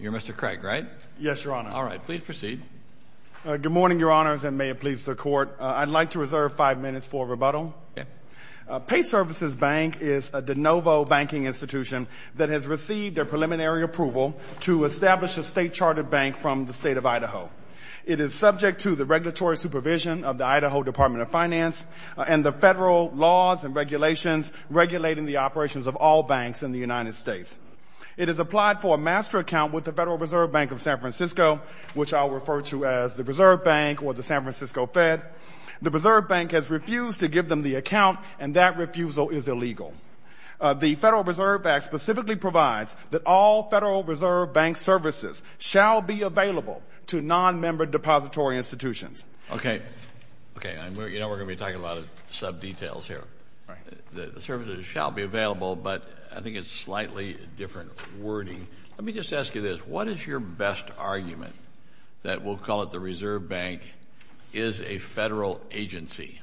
You're Mr. Craig, right? Yes, Your Honor. All right, please proceed. Good morning, Your Honors, and may it please the Court. I'd like to reserve five minutes for rebuttal. PayServices Bank is a de novo banking institution that has received their preliminary approval to establish a state-chartered bank from the state of Idaho. It is subject to the regulatory supervision of the Idaho Department of Finance and the federal laws and regulations regulating the operations of all banks in the United States. It has applied for a master account with the Federal Reserve Bank of San Francisco, which I'll refer to as the Reserve Bank or the San Francisco Fed. The Reserve Bank has refused to give them the account, and that refusal is illegal. The Federal Reserve Act specifically provides that all Federal Reserve Bank services shall be available to non-member depository institutions. Okay. Okay. You know we're going to be talking a lot of sub-details here. The services shall be available, but I think it's slightly different wording. Let me just ask you this. What is your best argument that we'll call it the Reserve Bank is a federal agency?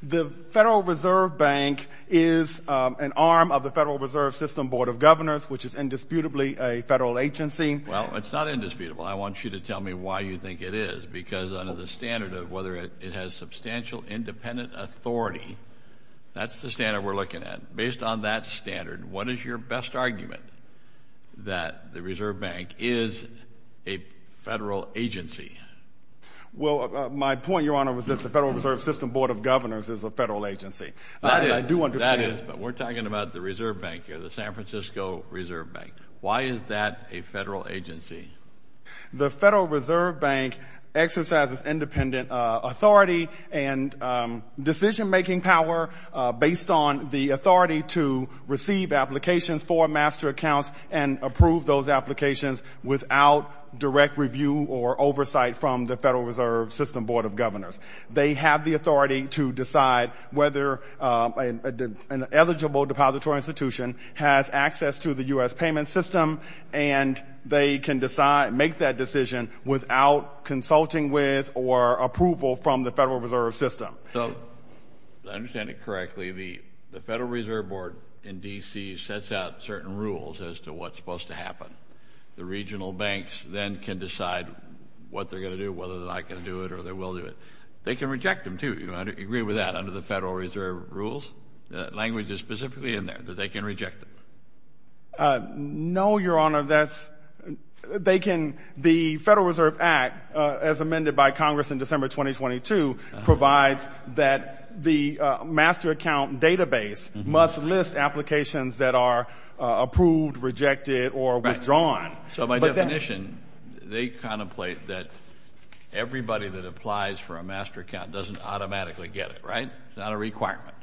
The Federal Reserve Bank is an arm of the Federal Reserve System Board of Governors, which is indisputably a federal agency. Well, it's not indisputable. I want you to tell me why you think it is, because under the standard of whether it has substantial independent authority, that's the standard we're looking at. Based on that standard, what is your best argument that the Reserve Bank is a federal agency? Well, my point, Your Honor, was that the Federal Reserve System Board of Governors is a federal agency. I do understand. That is, but we're talking about the Reserve Bank here, the San Francisco Reserve Bank. Why is that a federal agency? The Federal Reserve Bank exercises independent authority and decision-making power based on the authority to receive applications for master accounts and approve those applications without direct review or oversight from the Federal Reserve System Board of Governors. They have the authority to decide whether an eligible depository institution has access to the U.S. payment system, and they can make that decision without consulting with or approval from the Federal Reserve System. So, if I understand it correctly, the Federal Reserve Board in D.C. sets out certain rules as to what's supposed to happen. The regional banks then can decide what they're going to do, whether they're not going to do it or they will do it. They can reject them, too. Do you agree with that, under the Federal Reserve rules? That language is specifically in there, that they can reject them. No, Your Honor. The Federal Reserve Act, as amended by Congress in December 2022, provides that the master account database must list applications that are approved, rejected, or withdrawn. So, by definition, they contemplate that everybody that applies for a master account doesn't automatically get it, right? It's not a requirement.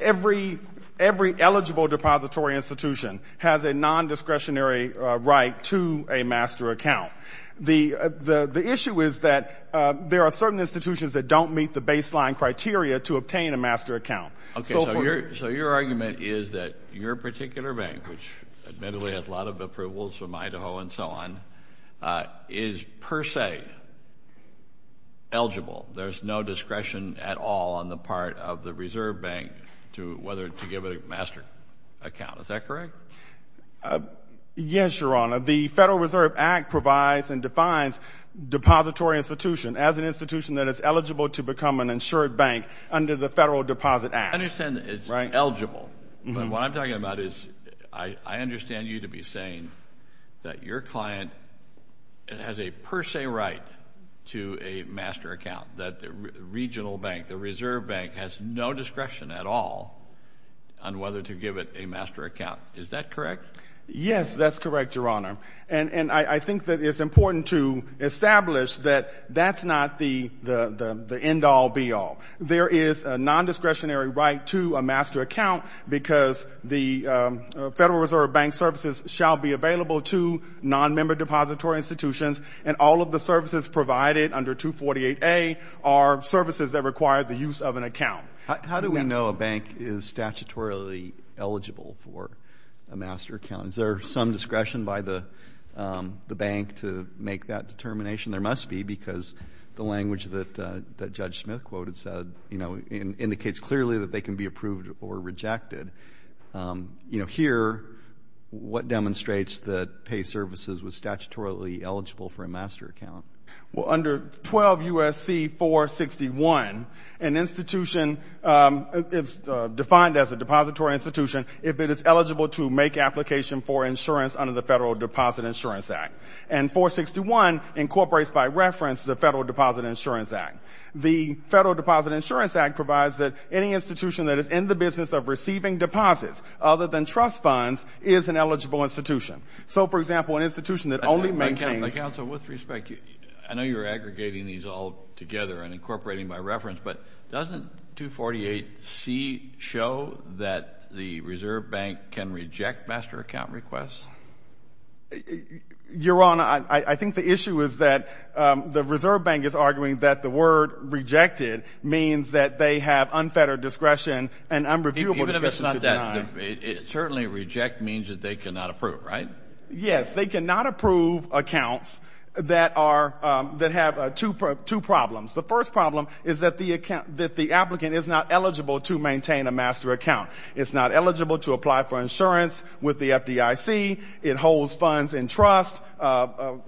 Every eligible depository institution has a nondiscretionary right to a master account. The issue is that there are certain institutions that don't meet the baseline criteria to obtain a master account. So, your argument is that your particular bank, which admittedly has a lot of approvals from Idaho and so on, is per se eligible. There's no discretion at all on the part of the reserve bank to whether to give it a master account. Is that correct? Yes, Your Honor. The Federal Reserve Act provides and defines depository institution as an institution that is eligible to become an insured bank under the Federal Deposit Act. I understand that it's eligible. But what I'm talking about is I understand you to be saying that your client has a per se right to a master account, that the regional bank, the reserve bank, has no discretion at all on whether to give it a master account. Is that correct? Yes, that's correct, Your Honor. And I think that it's important to establish that that's not the end-all, be-all. There is a nondiscretionary right to a master account because the Federal Reserve Bank services shall be available to nonmember depository institutions, and all of the services provided under 248A are services that require the use of an account. How do we know a bank is statutorily eligible for a master account? Is there some discretion by the bank to make that determination? There must be because the language that Judge Smith quoted said, you know, indicates clearly that they can be approved or rejected. You know, here, what demonstrates that Pay Services was statutorily eligible for a master account? Well, under 12 U.S.C. 461, an institution defined as a depository institution, if it is eligible to make application for insurance under the Federal Deposit Insurance Act. And 461 incorporates, by reference, the Federal Deposit Insurance Act. The Federal Deposit Insurance Act provides that any institution that is in the business of receiving deposits other than trust funds is an eligible institution. So, for example, an institution that only maintains. Counsel, with respect, I know you're aggregating these all together and incorporating by reference, but doesn't 248C show that the Reserve Bank can reject master account requests? Your Honor, I think the issue is that the Reserve Bank is arguing that the word rejected means that they have unfettered discretion and unreviewable discretion to deny. Even if it's not that, certainly reject means that they cannot approve, right? Yes. They cannot approve accounts that have two problems. The first problem is that the applicant is not eligible to maintain a master account. It's not eligible to apply for insurance with the FDIC. It holds funds in trust,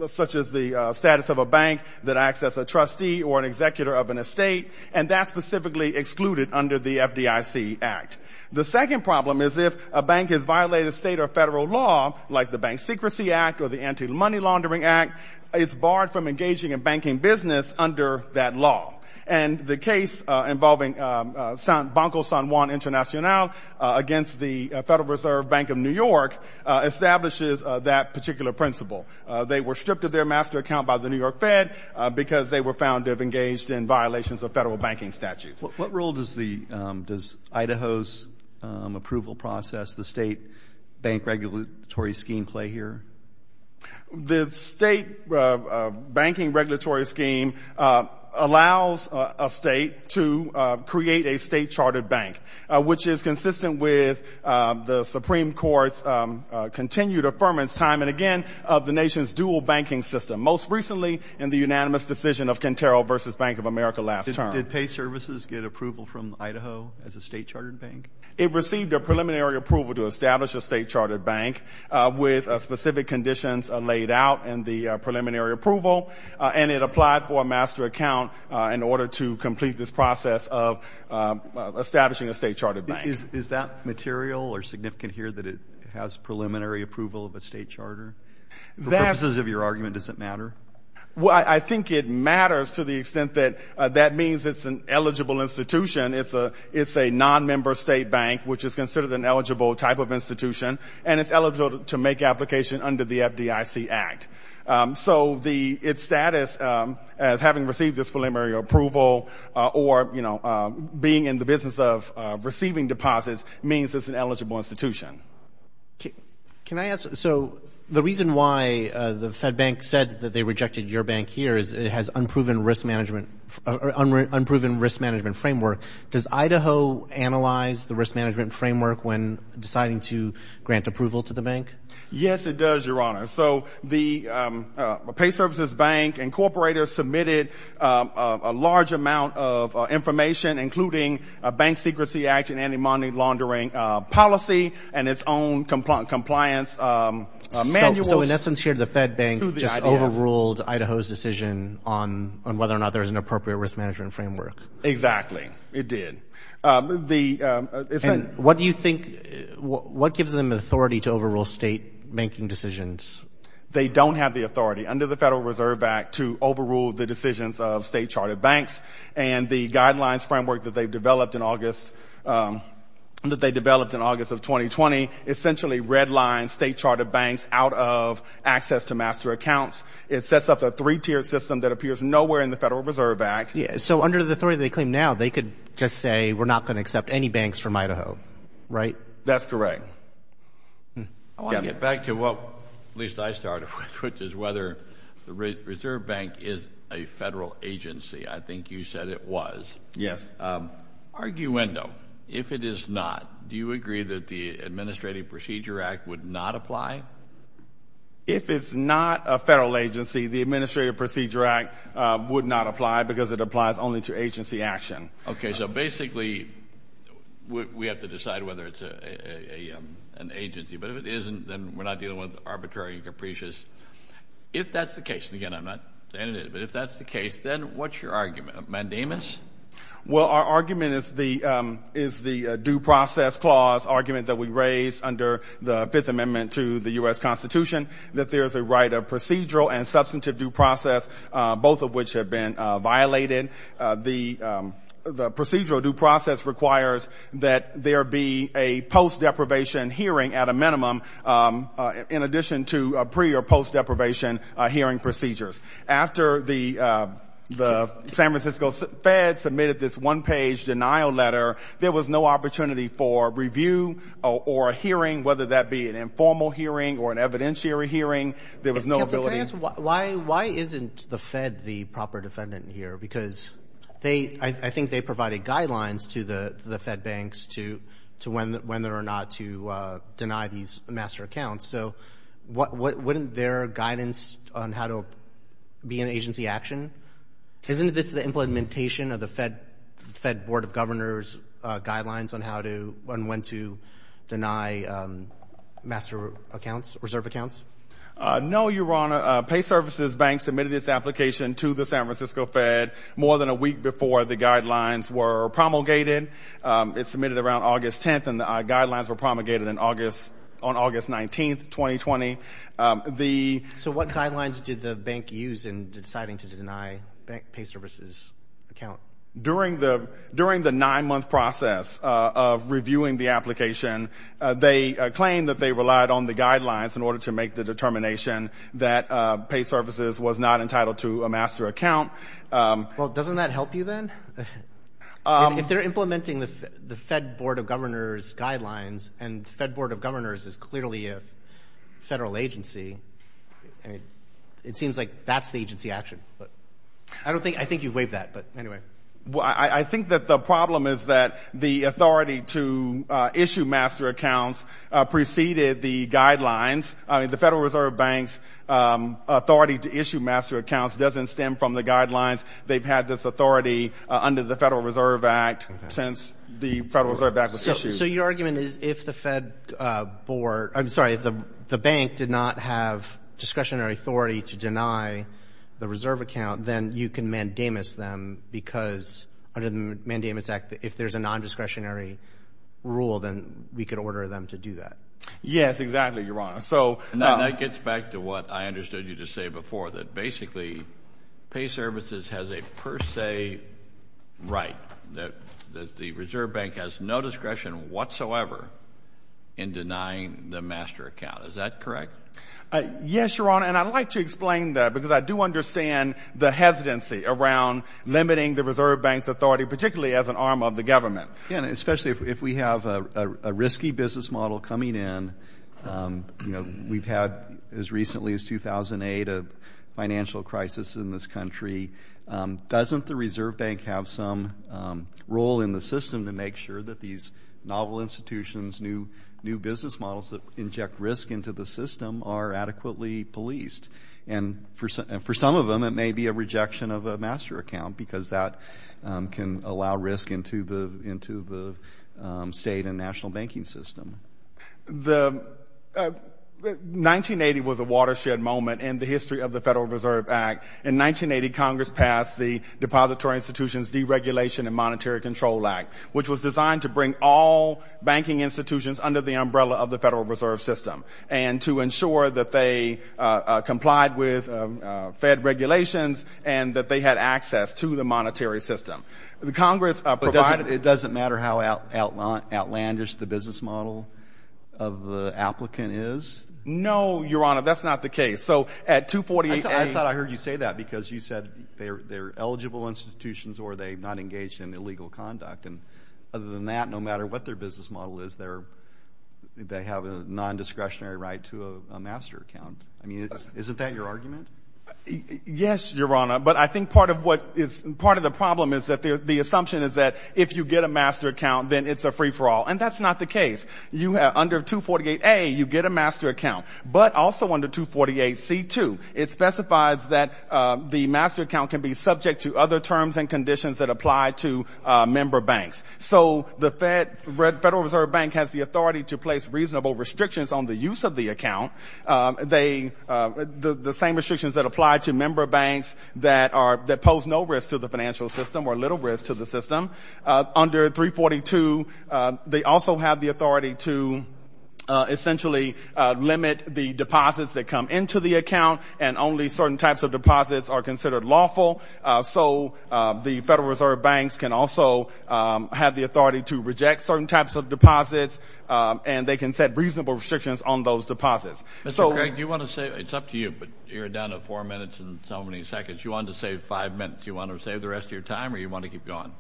such as the status of a bank that acts as a trustee or an executor of an estate, and that's specifically excluded under the FDIC Act. The second problem is if a bank has violated state or federal law, like the Bank Secrecy Act or the Anti-Money Laundering Act, it's barred from engaging in banking business under that law. And the case involving Banco San Juan Internacional against the Federal Reserve Bank of New York establishes that particular principle. They were stripped of their master account by the New York Fed because they were found to have engaged in violations of federal banking statutes. What role does Idaho's approval process, the state bank regulatory scheme, play here? The state banking regulatory scheme allows a state to create a state-chartered bank, which is consistent with the Supreme Court's continued affirmance time and again of the nation's dual banking system, most recently in the unanimous decision of Cantero v. Bank of America last term. Did pay services get approval from Idaho as a state-chartered bank? It received a preliminary approval to establish a state-chartered bank with specific conditions laid out in the preliminary approval, and it applied for a master account in order to complete this process of establishing a state-chartered bank. Is that material or significant here that it has preliminary approval of a state charter? For purposes of your argument, does it matter? I think it matters to the extent that that means it's an eligible institution. It's a non-member state bank, which is considered an eligible type of institution, and it's eligible to make application under the FDIC Act. So its status as having received this preliminary approval or, you know, being in the business of receiving deposits means it's an eligible institution. Can I ask? So the reason why the Fed Bank said that they rejected your bank here is it has unproven risk management framework. Does Idaho analyze the risk management framework when deciding to grant approval to the bank? Yes, it does, Your Honor. So the pay services bank and corporators submitted a large amount of information, including a bank secrecy action, anti-money laundering policy, and its own compliance manuals. So in essence here the Fed Bank just overruled Idaho's decision on whether or not there was an appropriate risk management framework. Exactly. It did. And what do you think, what gives them authority to overrule state banking decisions? They don't have the authority under the Federal Reserve Act to overrule the decisions of state-charted banks, and the guidelines framework that they've developed in August of 2020 essentially redlines state-charted banks out of access to master accounts. It sets up a three-tiered system that appears nowhere in the Federal Reserve Act. So under the authority they claim now, they could just say we're not going to accept any banks from Idaho, right? That's correct. I want to get back to what at least I started with, which is whether the Reserve Bank is a federal agency. I think you said it was. Arguendo, if it is not, do you agree that the Administrative Procedure Act would not apply? If it's not a federal agency, the Administrative Procedure Act would not apply because it applies only to agency action. Okay, so basically we have to decide whether it's an agency. But if it isn't, then we're not dealing with arbitrary and capricious. If that's the case, and again, I'm not saying it is, but if that's the case, then what's your argument? Mandamus? Well, our argument is the due process clause argument that we raised under the Fifth Amendment to the U.S. Constitution, that there is a right of procedural and substantive due process, both of which have been violated. The procedural due process requires that there be a post-deprivation hearing at a minimum in addition to pre- or post-deprivation hearing procedures. After the San Francisco Fed submitted this one-page denial letter, there was no opportunity for review or a hearing, whether that be an informal hearing or an evidentiary hearing. There was no ability to Counsel, can I ask, why isn't the Fed the proper defendant here? Because I think they provided guidelines to the Fed banks to whether or not to deny these master accounts. So wouldn't there be guidance on how to be in agency action? Isn't this the implementation of the Fed Board of Governors' guidelines on when to deny master accounts, reserve accounts? No, Your Honor. Pay Services Bank submitted this application to the San Francisco Fed more than a week before the guidelines were promulgated. It was submitted around August 10th, and the guidelines were promulgated on August 19th, 2020. So what guidelines did the bank use in deciding to deny the Pay Services account? During the nine-month process of reviewing the application, they claimed that they relied on the guidelines in order to make the determination that Pay Services was not entitled to a master account. Well, doesn't that help you then? If they're implementing the Fed Board of Governors' guidelines, and the Fed Board of Governors is clearly a federal agency, it seems like that's the agency action. I think you've waived that, but anyway. I think that the problem is that the authority to issue master accounts preceded the guidelines. I mean, the Federal Reserve Bank's authority to issue master accounts doesn't stem from the guidelines. They've had this authority under the Federal Reserve Act since the Federal Reserve Act was issued. So your argument is if the bank did not have discretionary authority to deny the reserve account, then you can mandamus them because under the Mandamus Act, if there's a nondiscretionary rule, then we could order them to do that. Yes, exactly, Your Honor. And that gets back to what I understood you to say before, that basically Pay Services has a per se right, that the Reserve Bank has no discretion whatsoever in denying the master account. Is that correct? Yes, Your Honor, and I'd like to explain that because I do understand the hesitancy around limiting the Reserve Bank's authority, particularly as an arm of the government. Yeah, and especially if we have a risky business model coming in. You know, we've had as recently as 2008 a financial crisis in this country. Doesn't the Reserve Bank have some role in the system to make sure that these novel institutions, new business models that inject risk into the system are adequately policed? And for some of them, it may be a rejection of a master account because that can allow risk into the state and national banking system. 1980 was a watershed moment in the history of the Federal Reserve Act. In 1980, Congress passed the Depository Institutions Deregulation and Monetary Control Act, which was designed to bring all banking institutions under the umbrella of the Federal Reserve System and to ensure that they complied with Fed regulations and that they had access to the monetary system. But it doesn't matter how outlandish the business model of the applicant is? No, Your Honor, that's not the case. I thought I heard you say that because you said they're eligible institutions or they're not engaged in illegal conduct. And other than that, no matter what their business model is, they have a nondiscretionary right to a master account. I mean, isn't that your argument? Yes, Your Honor, but I think part of what is part of the problem is that the assumption is that if you get a master account, then it's a free-for-all, and that's not the case. Under 248A, you get a master account. But also under 248C2, it specifies that the master account can be subject to other terms and conditions that apply to member banks. So the Federal Reserve Bank has the authority to place reasonable restrictions on the use of the account, the same restrictions that apply to member banks that pose no risk to the financial system or little risk to the system. Under 342, they also have the authority to essentially limit the deposits that come into the account, and only certain types of deposits are considered lawful. So the Federal Reserve Banks can also have the authority to reject certain types of deposits, and they can set reasonable restrictions on those deposits. Mr. Craig, do you want to say? It's up to you, but you're down to four minutes and so many seconds. You wanted to save five minutes. Do you want to save the rest of your time or do you want to keep going?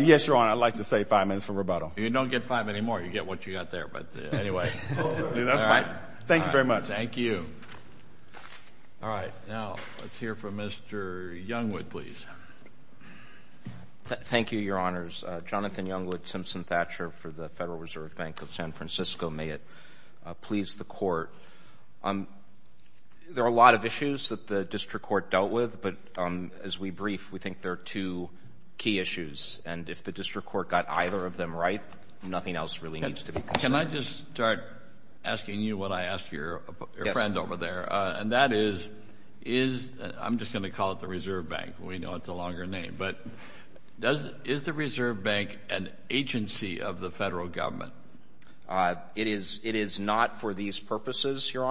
Yes, Your Honor, I'd like to save five minutes for rebuttal. You don't get five anymore. You get what you got there, but anyway. That's fine. Thank you very much. Thank you. All right. Now let's hear from Mr. Youngwood, please. Thank you, Your Honors. Jonathan Youngwood, Simpson Thatcher for the Federal Reserve Bank of San Francisco. May it please the Court. There are a lot of issues that the district court dealt with, but as we brief, we think there are two key issues. And if the district court got either of them right, nothing else really needs to be considered. Can I just start asking you what I asked your friend over there? Yes. And that is, I'm just going to call it the Reserve Bank. We know it's a longer name. But is the Reserve Bank an agency of the Federal Government? It is not for these purposes, Your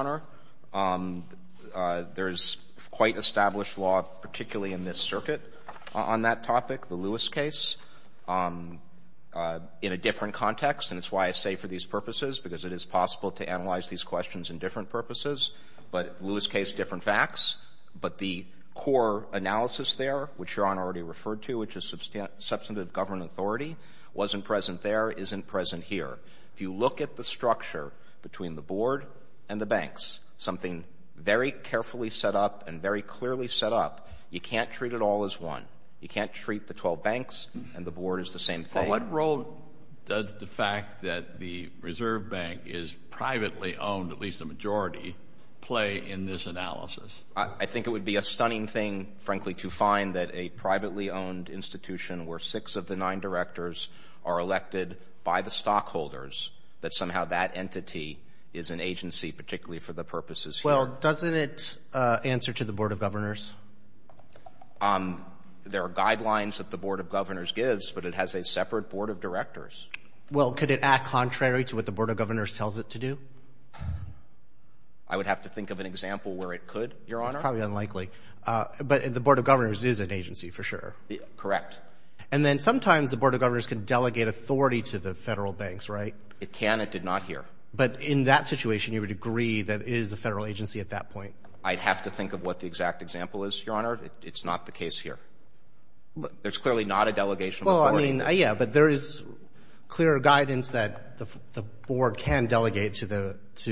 Honor. There's quite established law, particularly in this circuit, on that topic, the Lewis case, in a different context. And it's why I say for these purposes, because it is possible to analyze these questions in different purposes. But Lewis case, different facts. But the core analysis there, which Your Honor already referred to, which is substantive government authority, wasn't present there, isn't present here. If you look at the structure between the board and the banks, something very carefully set up and very clearly set up, you can't treat it all as one. You can't treat the 12 banks and the board as the same thing. What role does the fact that the Reserve Bank is privately owned, at least a majority, play in this analysis? I think it would be a stunning thing, frankly, to find that a privately owned institution, where six of the nine directors are elected by the stockholders, that somehow that entity is an agency, particularly for the purposes here. Well, doesn't it answer to the Board of Governors? There are guidelines that the Board of Governors gives, but it has a separate Board of Directors. Well, could it act contrary to what the Board of Governors tells it to do? I would have to think of an example where it could, Your Honor. It's probably unlikely. But the Board of Governors is an agency, for sure. Correct. And then sometimes the Board of Governors can delegate authority to the Federal banks, right? It can. It did not here. But in that situation, you would agree that it is a Federal agency at that point? I'd have to think of what the exact example is, Your Honor. It's not the case here. There's clearly not a delegation of authority. Well, I mean, yeah, but there is clear guidance that the Board can delegate to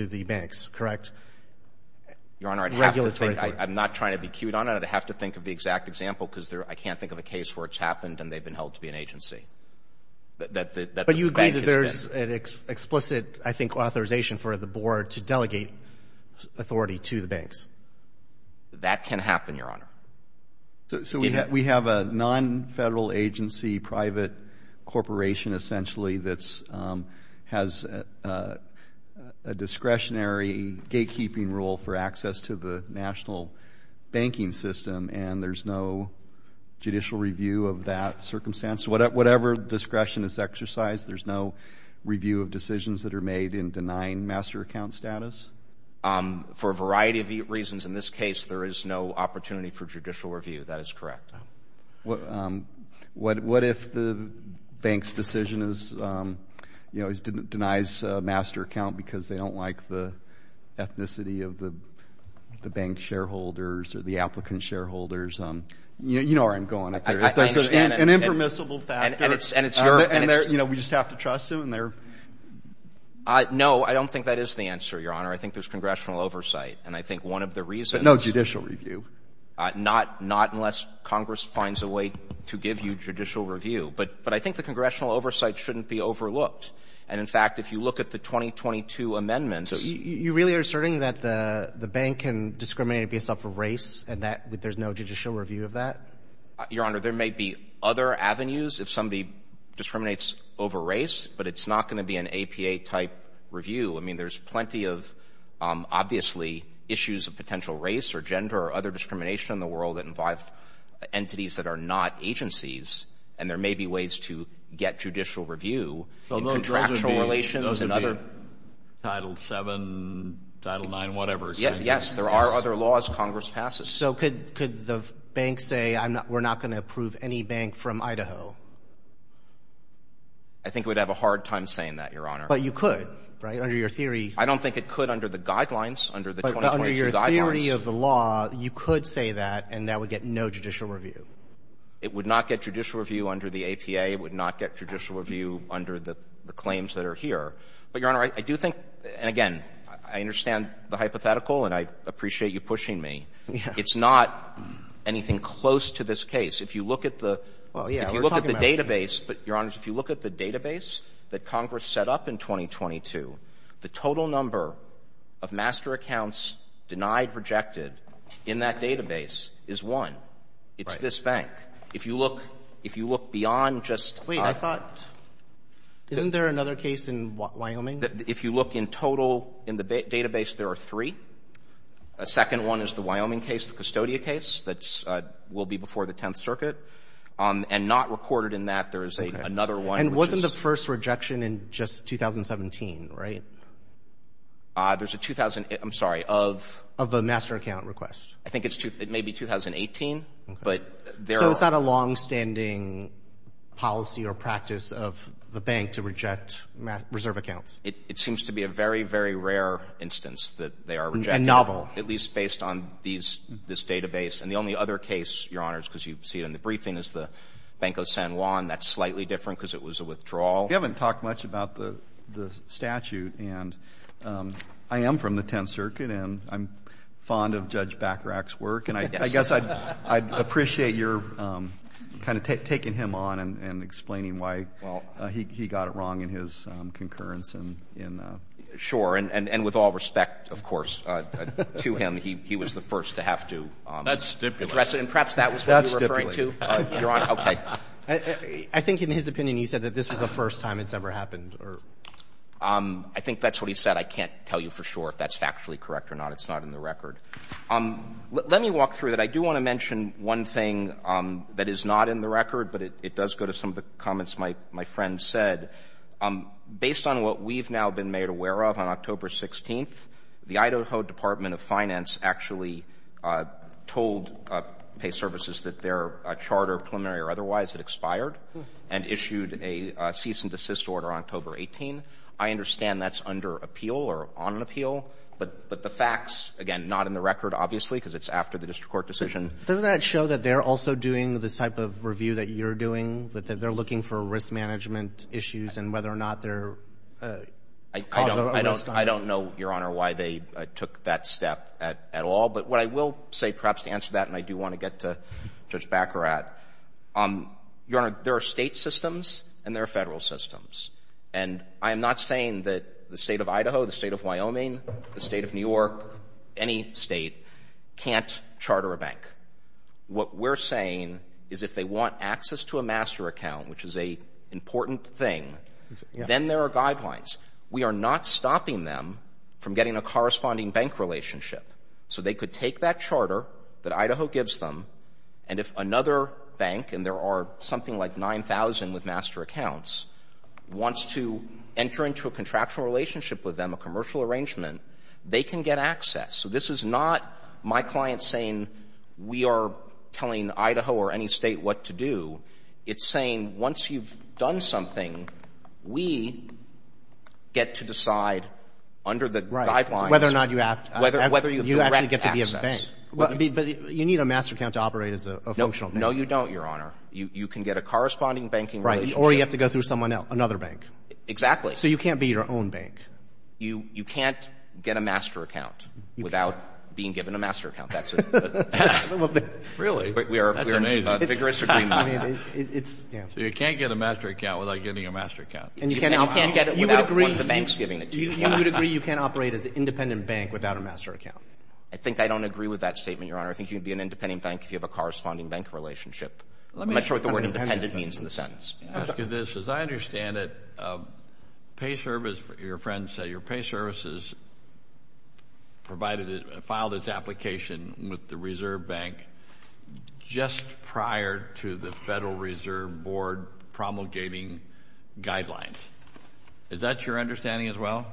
the banks, correct? Your Honor, I'd have to think. Regulatory authority. I'm not trying to be cute on it. I'd have to think of the exact example because I can't think of a case where it's happened and they've been held to be an agency, that the bank has been. But you agree that there's an explicit, I think, authorization for the Board to delegate authority to the banks? That can happen, Your Honor. So we have a non-Federal agency private corporation, essentially, that has a discretionary gatekeeping rule for access to the national banking system and there's no judicial review of that circumstance? Whatever discretion is exercised, there's no review of decisions that are made in denying master account status? For a variety of reasons. In this case, there is no opportunity for judicial review. That is correct. What if the bank's decision denies master account because they don't like the ethnicity of the bank shareholders or the applicant shareholders? You know where I'm going. There's an impermissible factor and we just have to trust them. No, I don't think that is the answer, Your Honor. I think there's congressional oversight. But no judicial review? Not unless Congress finds a way to give you judicial review. But I think the congressional oversight shouldn't be overlooked. And, in fact, if you look at the 2022 amendments You really are asserting that the bank can discriminate based off of race and there's no judicial review of that? Your Honor, there may be other avenues if somebody discriminates over race but it's not going to be an APA-type review. I mean, there's plenty of, obviously, issues of potential race or gender or other discrimination in the world that involve entities that are not agencies. And there may be ways to get judicial review in contractual relations. Those would be Title VII, Title IX, whatever. Yes, there are other laws Congress passes. So could the bank say, we're not going to approve any bank from Idaho? I think it would have a hard time saying that, Your Honor. But you could, right, under your theory. I don't think it could under the guidelines, under the 2022 guidelines. But under your theory of the law, you could say that and that would get no judicial review. It would not get judicial review under the APA. It would not get judicial review under the claims that are here. But, Your Honor, I do think, and again, I understand the hypothetical and I appreciate you pushing me. It's not anything close to this case. If you look at the database, Your Honors, if you look at the database that Congress set up in 2022, the total number of master accounts denied, rejected in that database is one. It's this bank. If you look beyond just – Wait, I thought, isn't there another case in Wyoming? If you look in total in the database, there are three. A second one is the Wyoming case, the custodial case that will be before the Tenth Circuit. And not recorded in that, there is another one. And wasn't the first rejection in just 2017, right? There's a – I'm sorry, of? Of a master account request. I think it's – it may be 2018, but there are – So it's not a longstanding policy or practice of the bank to reject reserve accounts. It seems to be a very, very rare instance that they are rejected. And novel. At least based on these – this database. And the only other case, Your Honors, because you see it in the briefing, is the Bank of San Juan. That's slightly different because it was a withdrawal. You haven't talked much about the statute. And I am from the Tenth Circuit, and I'm fond of Judge Bachrach's work. Yes. And I guess I'd appreciate your kind of taking him on and explaining why he got it wrong in his concurrence in the – And with all respect, of course, to him, he was the first to have to address it. And perhaps that was what you're referring to. Your Honor, okay. I think in his opinion, he said that this was the first time it's ever happened or – I think that's what he said. I can't tell you for sure if that's factually correct or not. It's not in the record. Let me walk through that. I do want to mention one thing that is not in the record, but it does go to some of the comments my friend said. Based on what we've now been made aware of on October 16th, the Idaho Department of Finance actually told Pay Services that their charter, preliminary or otherwise, had expired and issued a cease-and-desist order on October 18. I understand that's under appeal or on appeal. But the facts, again, not in the record, obviously, because it's after the district court decision. Doesn't that show that they're also doing this type of review that you're doing, that they're looking for risk management issues and whether or not they're causing a risk on you? I don't know, Your Honor, why they took that step at all. But what I will say perhaps to answer that, and I do want to get to Judge Baccarat, Your Honor, there are State systems and there are Federal systems. And I am not saying that the State of Idaho, the State of Wyoming, the State of New York, any State can't charter a bank. What we're saying is if they want access to a master account, which is an important thing, then there are guidelines. We are not stopping them from getting a corresponding bank relationship. So they could take that charter that Idaho gives them, and if another bank, and there are something like 9,000 with master accounts, wants to enter into a contractual arrangement, they can get access. So this is not my client saying we are telling Idaho or any State what to do. It's saying once you've done something, we get to decide under the guidelines. Whether or not you have to. Whether you direct access. You actually get to be a bank. But you need a master account to operate as a functional bank. No. No, you don't, Your Honor. You can get a corresponding banking relationship. Right. Or you have to go through someone else, another bank. Exactly. So you can't be your own bank. You can't get a master account without being given a master account. Really? That's amazing. So you can't get a master account without getting a master account. And you can't get it without one of the banks giving it to you. You would agree you can't operate as an independent bank without a master account. I think I don't agree with that statement, Your Honor. I think you would be an independent bank if you have a corresponding bank relationship. I'm not sure what the word independent means in the sentence. Let me ask you this. As I understand it, your friend said your pay services filed its application with the Reserve Bank just prior to the Federal Reserve Board promulgating guidelines. Is that your understanding as well?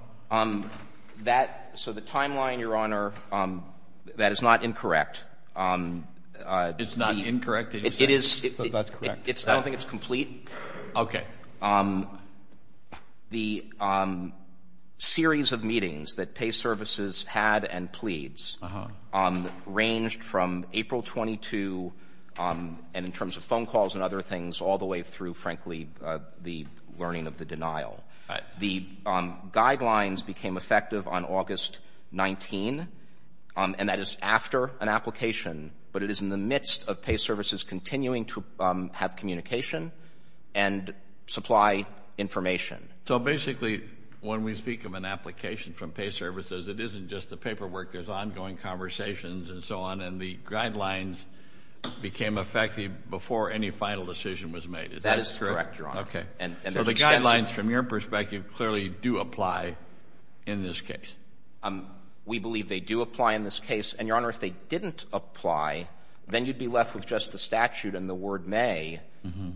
So the timeline, Your Honor, that is not incorrect. It's not incorrect? I don't think it's complete. Okay. The series of meetings that pay services had and pleads ranged from April 22 and in terms of phone calls and other things all the way through, frankly, the learning of the denial. The guidelines became effective on August 19, and that is after an application, but it is in the midst of pay services continuing to have communication and supply information. So basically when we speak of an application from pay services, it isn't just the paperwork. There's ongoing conversations and so on, and the guidelines became effective before any final decision was made. Is that correct, Your Honor? That is correct, Your Honor. Okay. So the guidelines from your perspective clearly do apply in this case? We believe they do apply in this case. And, Your Honor, if they didn't apply, then you'd be left with just the statute and the word may,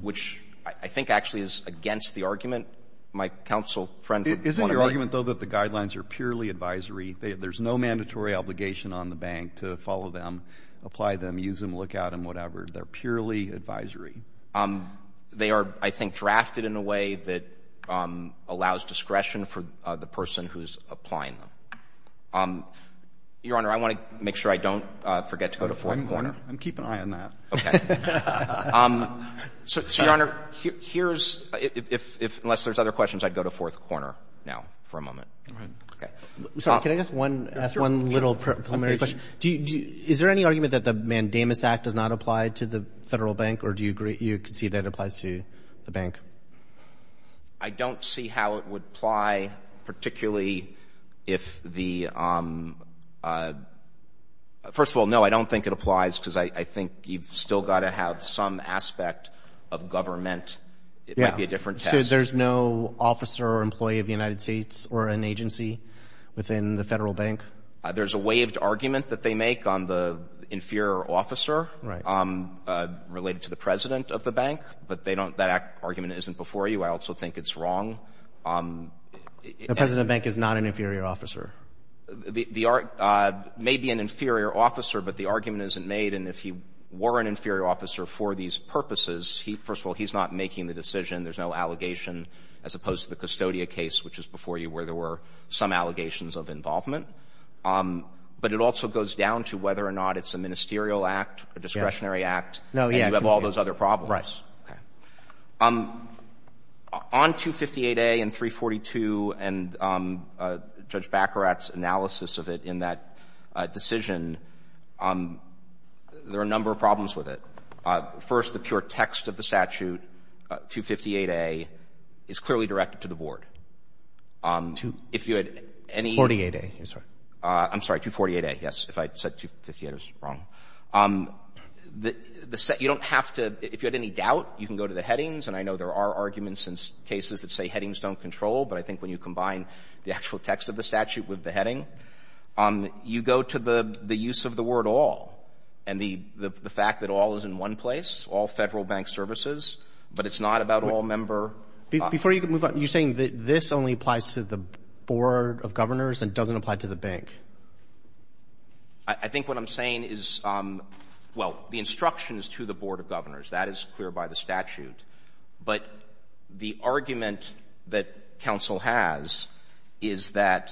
which I think actually is against the argument my counsel friend would want to make. Isn't your argument, though, that the guidelines are purely advisory? There's no mandatory obligation on the bank to follow them, apply them, use them, look out, and whatever. They're purely advisory. They are, I think, drafted in a way that allows discretion for the person who's applying them. Your Honor, I want to make sure I don't forget to go to Fourth Corner. I'm keeping an eye on that. So, Your Honor, here's — unless there's other questions, I'd go to Fourth Corner now for a moment. All right. Okay. I'm sorry. Can I ask one little preliminary question? Is there any argument that the Mandamus Act does not apply to the Federal Bank, or do you concede that it applies to the bank? I don't see how it would apply, particularly if the — first of all, no, I don't think it applies because I think you've still got to have some aspect of government. It might be a different test. So there's no officer or employee of the United States or an agency within the Federal Bank? There's a waived argument that they make on the inferior officer related to the president of the bank, but they don't — that argument isn't before you. I also think it's wrong. The president of the bank is not an inferior officer. The — may be an inferior officer, but the argument isn't made. And if he were an inferior officer for these purposes, he — first of all, he's not making the decision. There's no allegation, as opposed to the Custodia case, which is before you, where there were some allegations of involvement. But it also goes down to whether or not it's a ministerial act, a discretionary act. And you have all those other problems. Okay. On 258a and 342 and Judge Baccarat's analysis of it in that decision, there are a number of problems with it. First, the pure text of the statute, 258a, is clearly directed to the board. If you had any — 248a. I'm sorry. I'm sorry, 248a, yes. If I said 258a, I was wrong. The — you don't have to — if you had any doubt, you can go to the headings. And I know there are arguments in cases that say headings don't control, but I think when you combine the actual text of the statute with the heading, you go to the use of the word all and the fact that all is in one place, all Federal bank services, but it's not about all member — Before you move on, you're saying that this only applies to the board of governors and doesn't apply to the bank? I think what I'm saying is — well, the instruction is to the board of governors. That is clear by the statute. But the argument that counsel has is that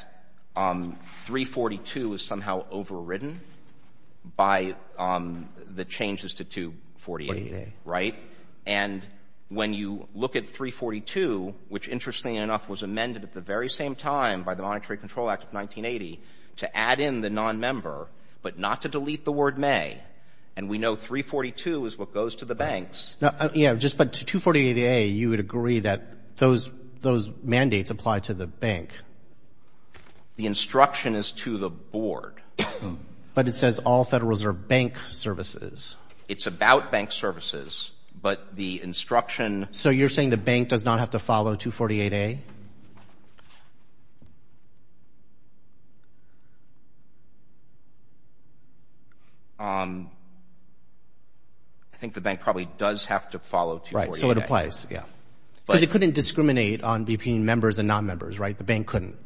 342 is somehow overridden by the changes to 248a, right? And when you look at 342, which, interestingly enough, was amended at the very same time by the Monetary Control Act of 1980 to add in the nonmember, but not to delete the word may. And we know 342 is what goes to the banks. Yeah, but to 248a, you would agree that those mandates apply to the bank. The instruction is to the board. But it says all Federal Reserve bank services. It's about bank services, but the instruction — So you're saying the bank does not have to follow 248a? I think the bank probably does have to follow 248a. So it applies. Yeah. Because it couldn't discriminate between members and nonmembers, right? The bank couldn't.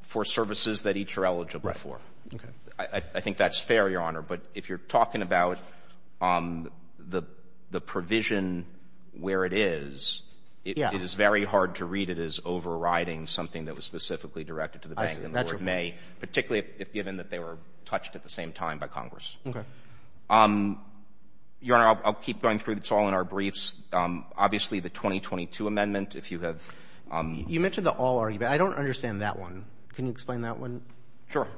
For services that each are eligible for. Right. Okay. I think that's fair, Your Honor. But if you're talking about the provision where it is, it is very hard to read it as overriding something that was specifically directed to the bank in the word may, particularly if given that they were touched at the same time by Congress. Okay. Your Honor, I'll keep going through. It's all in our briefs. Obviously, the 2022 amendment, if you have — You mentioned the all argument. I don't understand that one. Can you explain that one? Sure.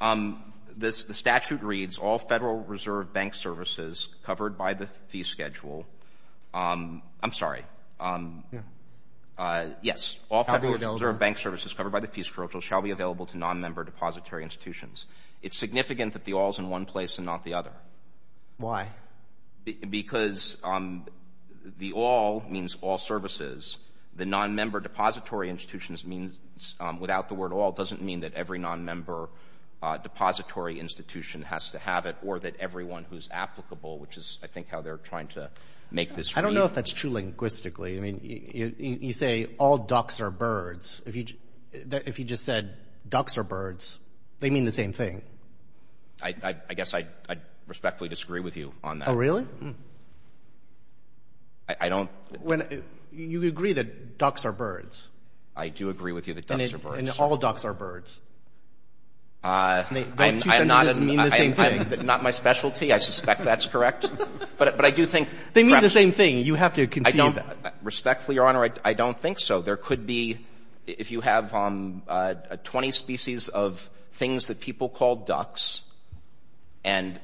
The statute reads, all Federal Reserve Bank services covered by the fee schedule — I'm sorry. Yeah. Yes. All Federal Reserve Bank services covered by the fee schedule shall be available to nonmember depository institutions. It's significant that the all is in one place and not the other. Why? Because the all means all services. The nonmember depository institutions means — without the word all, it doesn't mean that every nonmember depository institution has to have it or that everyone who's applicable, which is, I think, how they're trying to make this read. I don't know if that's true linguistically. I mean, you say all ducks are birds. If you just said ducks are birds, they mean the same thing. I guess I respectfully disagree with you on that. I don't — You agree that ducks are birds. I do agree with you that ducks are birds. And all ducks are birds. Those two sentences mean the same thing. Not my specialty. I suspect that's correct. But I do think — They mean the same thing. You have to concede that. Respectfully, Your Honor, I don't think so. There could be — if you have 20 species of things that people call ducks, and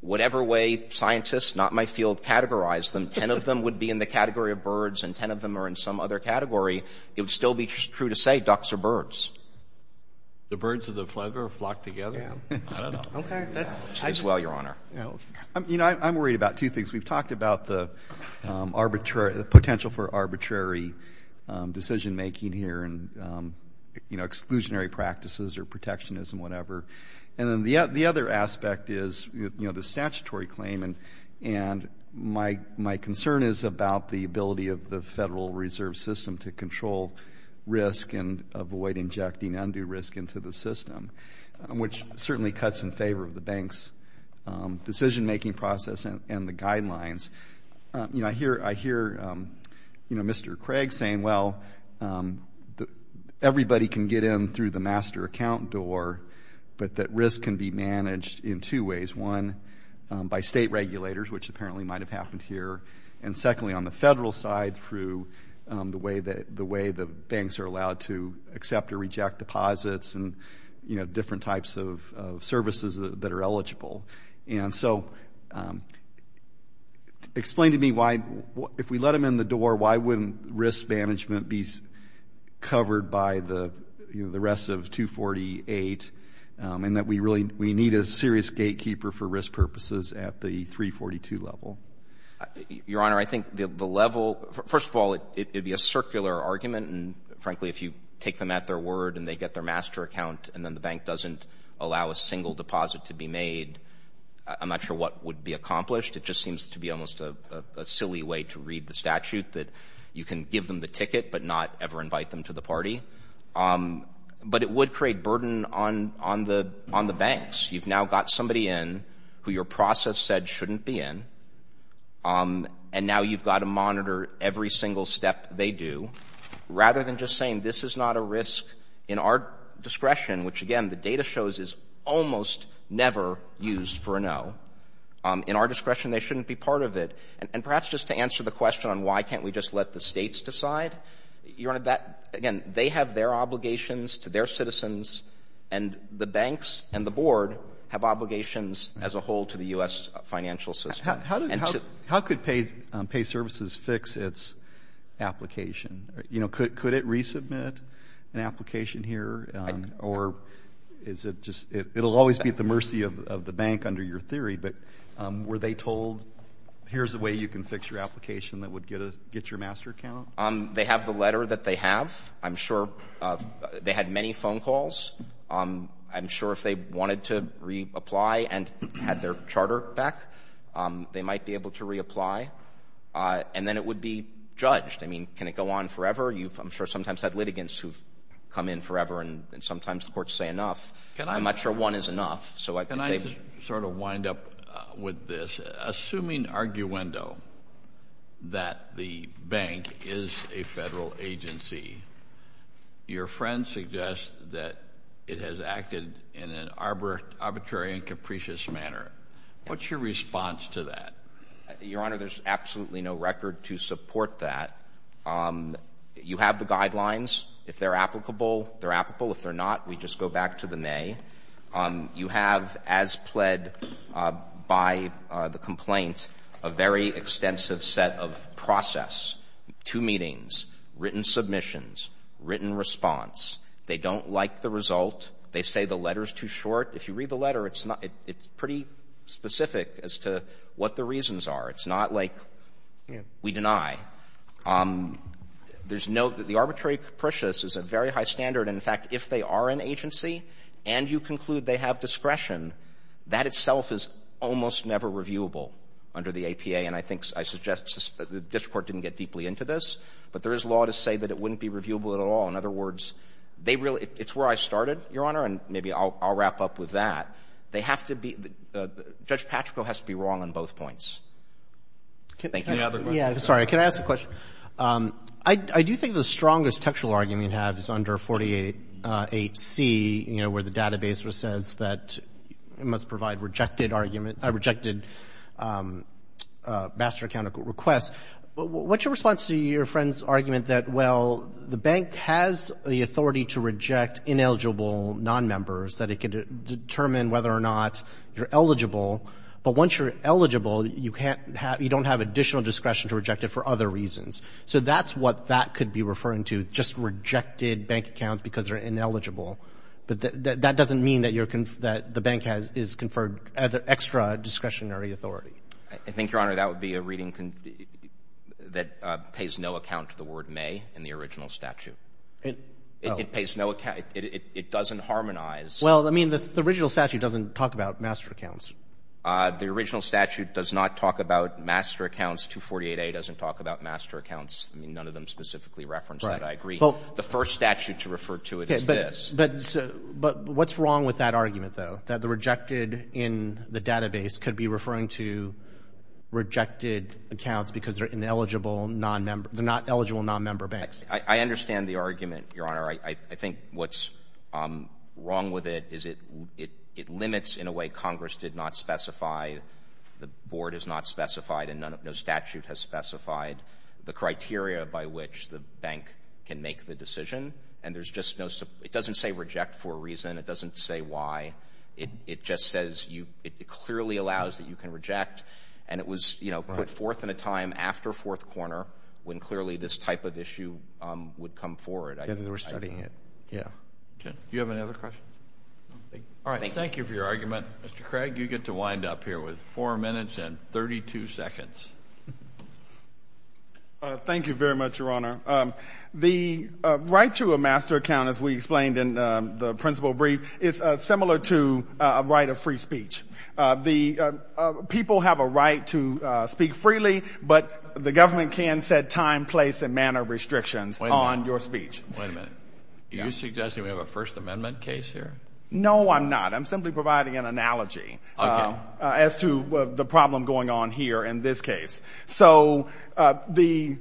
whatever way scientists, not my field, categorize them, 10 of them would be in the category of birds and 10 of them are in some other category, it would still be true to say ducks are birds. The birds of the flagler flock together? I don't know. Okay. That's — As well, Your Honor. You know, I'm worried about two things. We've talked about the arbitrary — the potential for arbitrary decision-making here and, you know, exclusionary practices or protectionism, whatever. And then the other aspect is, you know, the statutory claim. And my concern is about the ability of the Federal Reserve System to control risk and avoid injecting undue risk into the system, which certainly cuts in favor of the bank's decision-making process and the guidelines. You know, I hear Mr. Craig saying, well, everybody can get in through the master account door, but that risk can be managed in two ways. One, by state regulators, which apparently might have happened here. And secondly, on the federal side, through the way the banks are allowed to accept or reject deposits and, you know, different types of services that are eligible. And so explain to me why, if we let them in the door, why wouldn't risk management be covered by the, you know, the rest of 248 and that we really — we need a serious gatekeeper for risk purposes at the 342 level? Your Honor, I think the level — first of all, it would be a circular argument. And frankly, if you take them at their word and they get their master account and then the bank doesn't allow a single deposit to be made, I'm not sure what would be accomplished. It just seems to be almost a silly way to read the statute, that you can give them the ticket but not ever invite them to the party. But it would create burden on the banks. You've now got somebody in who your process said shouldn't be in, and now you've got to monitor every single step they do. Rather than just saying, this is not a risk in our discretion, which, again, the data shows is almost never used for a no. In our discretion, they shouldn't be part of it. And perhaps just to answer the question on why can't we just let the states decide, Your Honor, that — again, they have their obligations to their citizens, and the banks and the board have obligations as a whole to the U.S. financial system. How could Pay Services fix its application? You know, could it resubmit an application here? Or is it just — it will always be at the mercy of the bank under your theory, but were they told, here's a way you can fix your application that would get your master account? They have the letter that they have. I'm sure they had many phone calls. I'm sure if they wanted to reapply and had their charter back, they might be able to reapply. And then it would be judged. I mean, can it go on forever? I'm sure sometimes you've had litigants who've come in forever, and sometimes the courts say enough. I'm not sure one is enough. Can I just sort of wind up with this? Assuming arguendo that the bank is a federal agency, your friend suggests that it has acted in an arbitrary and capricious manner. What's your response to that? Your Honor, there's absolutely no record to support that. You have the guidelines. If they're applicable, they're applicable. If they're not, we just go back to the may. You have, as pled by the complaint, a very extensive set of process, two meetings, written submissions, written response. They don't like the result. They say the letter is too short. If you read the letter, it's pretty specific as to what the reasons are. It's not like we deny. There's no — the arbitrary and capricious is a very high standard. And, in fact, if they are an agency and you conclude they have discretion, that itself is almost never reviewable under the APA. And I think — I suggest the district court didn't get deeply into this, but there is law to say that it wouldn't be reviewable at all. In other words, they really — it's where I started, Your Honor, and maybe I'll wrap up with that. They have to be — Judge Patrico has to be wrong on both points. Thank you. Any other questions? Yeah, sorry. Can I ask a question? I do think the strongest textual argument you have is under 48C, you know, where the database says that it must provide rejected argument — rejected master account request. What's your response to your friend's argument that, well, the bank has the authority to reject ineligible nonmembers, that it can determine whether or not you're eligible, but once you're eligible, you don't have additional discretion to reject it for other reasons? So that's what that could be referring to, just rejected bank accounts because they're ineligible. But that doesn't mean that the bank is conferred extra discretionary authority. I think, Your Honor, that would be a reading that pays no account to the word may in the original statute. It pays no — it doesn't harmonize. Well, I mean, the original statute doesn't talk about master accounts. The original statute does not talk about master accounts. 248A doesn't talk about master accounts. I mean, none of them specifically reference that. I agree. The first statute to refer to it is this. But what's wrong with that argument, though, that the rejected in the database could be referring to rejected accounts because they're ineligible nonmember — they're not eligible nonmember banks? I understand the argument, Your Honor. I think what's wrong with it is it limits, in a way Congress did not specify, the board has not specified and no statute has specified, the criteria by which the bank can make the decision. And there's just no — it doesn't say reject for a reason. It doesn't say why. It just says you — it clearly allows that you can reject. And it was, you know, put forth in a time after Fourth Corner when clearly this type of issue would come forward. They were studying it. Yeah. Okay. Do you have any other questions? All right. Thank you for your argument. Mr. Craig, you get to wind up here with 4 minutes and 32 seconds. Thank you very much, Your Honor. The right to a master account, as we explained in the principal brief, is similar to a right of free speech. People have a right to speak freely, but the government can set time, place, and manner restrictions on your speech. Wait a minute. Wait a minute. Are you suggesting we have a First Amendment case here? No, I'm not. I'm simply providing an analogy as to the problem going on here in this case. So the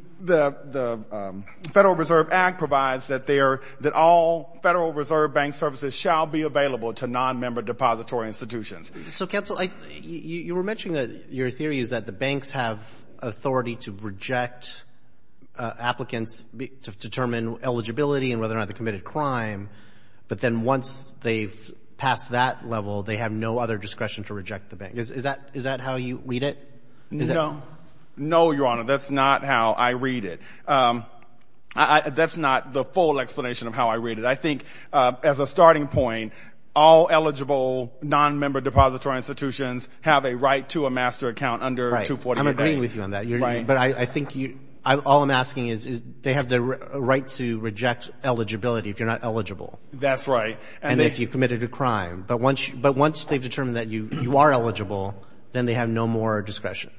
Federal Reserve Act provides that all Federal Reserve Bank services shall be available to nonmember depository institutions. So, counsel, you were mentioning that your theory is that the banks have authority to reject applicants to determine eligibility and whether or not they committed a crime, but then once they've passed that level, they have no other discretion to reject the bank. Is that how you read it? No. No, Your Honor. That's not how I read it. That's not the full explanation of how I read it. I think as a starting point, all eligible nonmember depository institutions have a right to a master account under 248A. I'm agreeing with you on that. Right. But I think all I'm asking is they have the right to reject eligibility if you're not eligible. That's right. And if you've committed a crime. But once they've determined that you are eligible, then they have no more discretion.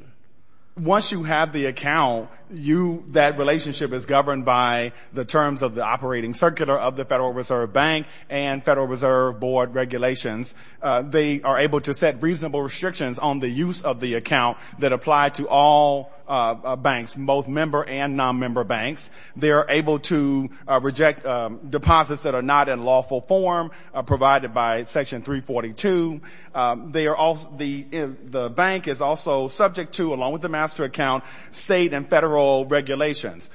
Once you have the account, that relationship is governed by the terms of the operating circular of the Federal Reserve Bank and Federal Reserve Board regulations. They are able to set reasonable restrictions on the use of the account that apply to all banks, both member and nonmember banks. They are able to reject deposits that are not in lawful form provided by Section 342. The bank is also subject to, along with the master account, state and federal regulations.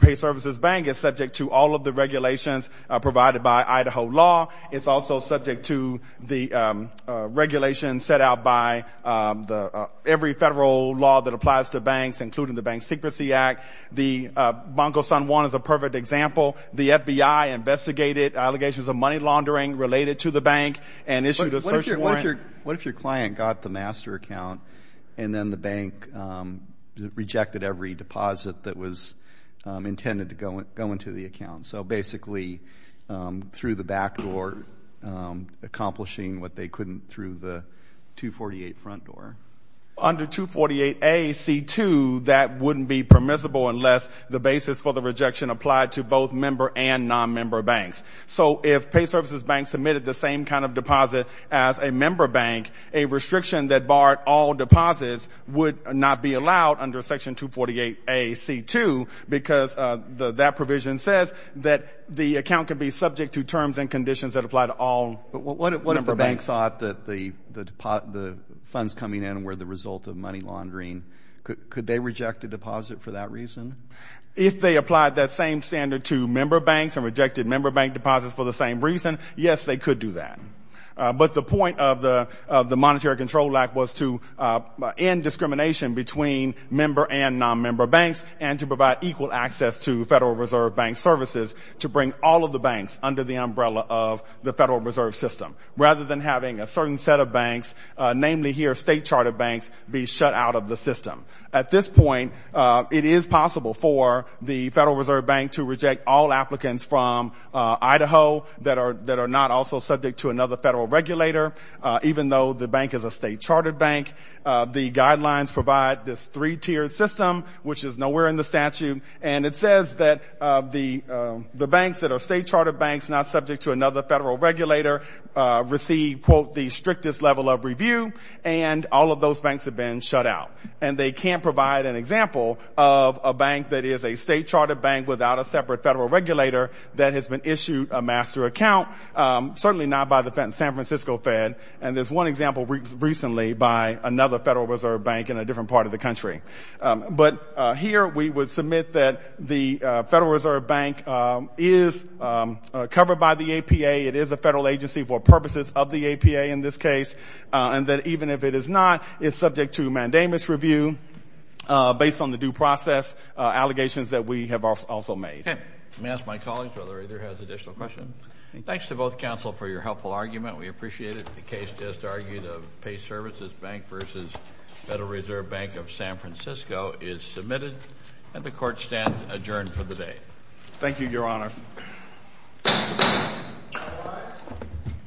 Pay Services Bank is subject to all of the regulations provided by Idaho law. It's also subject to the regulations set out by every federal law that applies to banks, including the Bank Secrecy Act. The Banco San Juan is a perfect example. The FBI investigated allegations of money laundering related to the bank and issued a search warrant. What if your client got the master account and then the bank rejected every deposit that was intended to go into the account? So basically, through the back door, accomplishing what they couldn't through the 248 front door. Under 248A.C.2, that wouldn't be permissible unless the basis for the rejection applied to both member and nonmember banks. So if Pay Services Bank submitted the same kind of deposit as a member bank, a restriction that barred all deposits would not be allowed under Section 248A.C.2 because that provision says that the account could be subject to terms and conditions that apply to all member banks. But what if the bank thought that the funds coming in were the result of money laundering? Could they reject a deposit for that reason? If they applied that same standard to member banks and rejected member bank deposits for the same reason, yes, they could do that. But the point of the Monetary Control Act was to end discrimination between member and nonmember banks and to provide equal access to Federal Reserve Bank services to bring all of the banks under the umbrella of the Federal Reserve System, rather than having a certain set of banks, namely here state charter banks, be shut out of the system. At this point, it is possible for the Federal Reserve Bank to reject all applicants from Idaho that are not also subject to another federal regulator, even though the bank is a state charter bank. The guidelines provide this three-tiered system, which is nowhere in the statute, and it says that the banks that are state charter banks not subject to another federal regulator receive, quote, the strictest level of review, and all of those banks have been shut out. And they can't provide an example of a bank that is a state charter bank without a separate federal regulator that has been issued a master account, certainly not by the San Francisco Fed. And there's one example recently by another Federal Reserve Bank in a different part of the country. But here we would submit that the Federal Reserve Bank is covered by the APA, it is a federal agency for purposes of the APA in this case, and that even if it is not, it's subject to mandamus review based on the due process allegations that we have also made. Okay. Let me ask my colleagues whether either has additional questions. Thanks to both counsel for your helpful argument. We appreciate it. The case just argued of Pay Services Bank versus Federal Reserve Bank of San Francisco is submitted, and the court stands adjourned for the day. Thank you, Your Honor.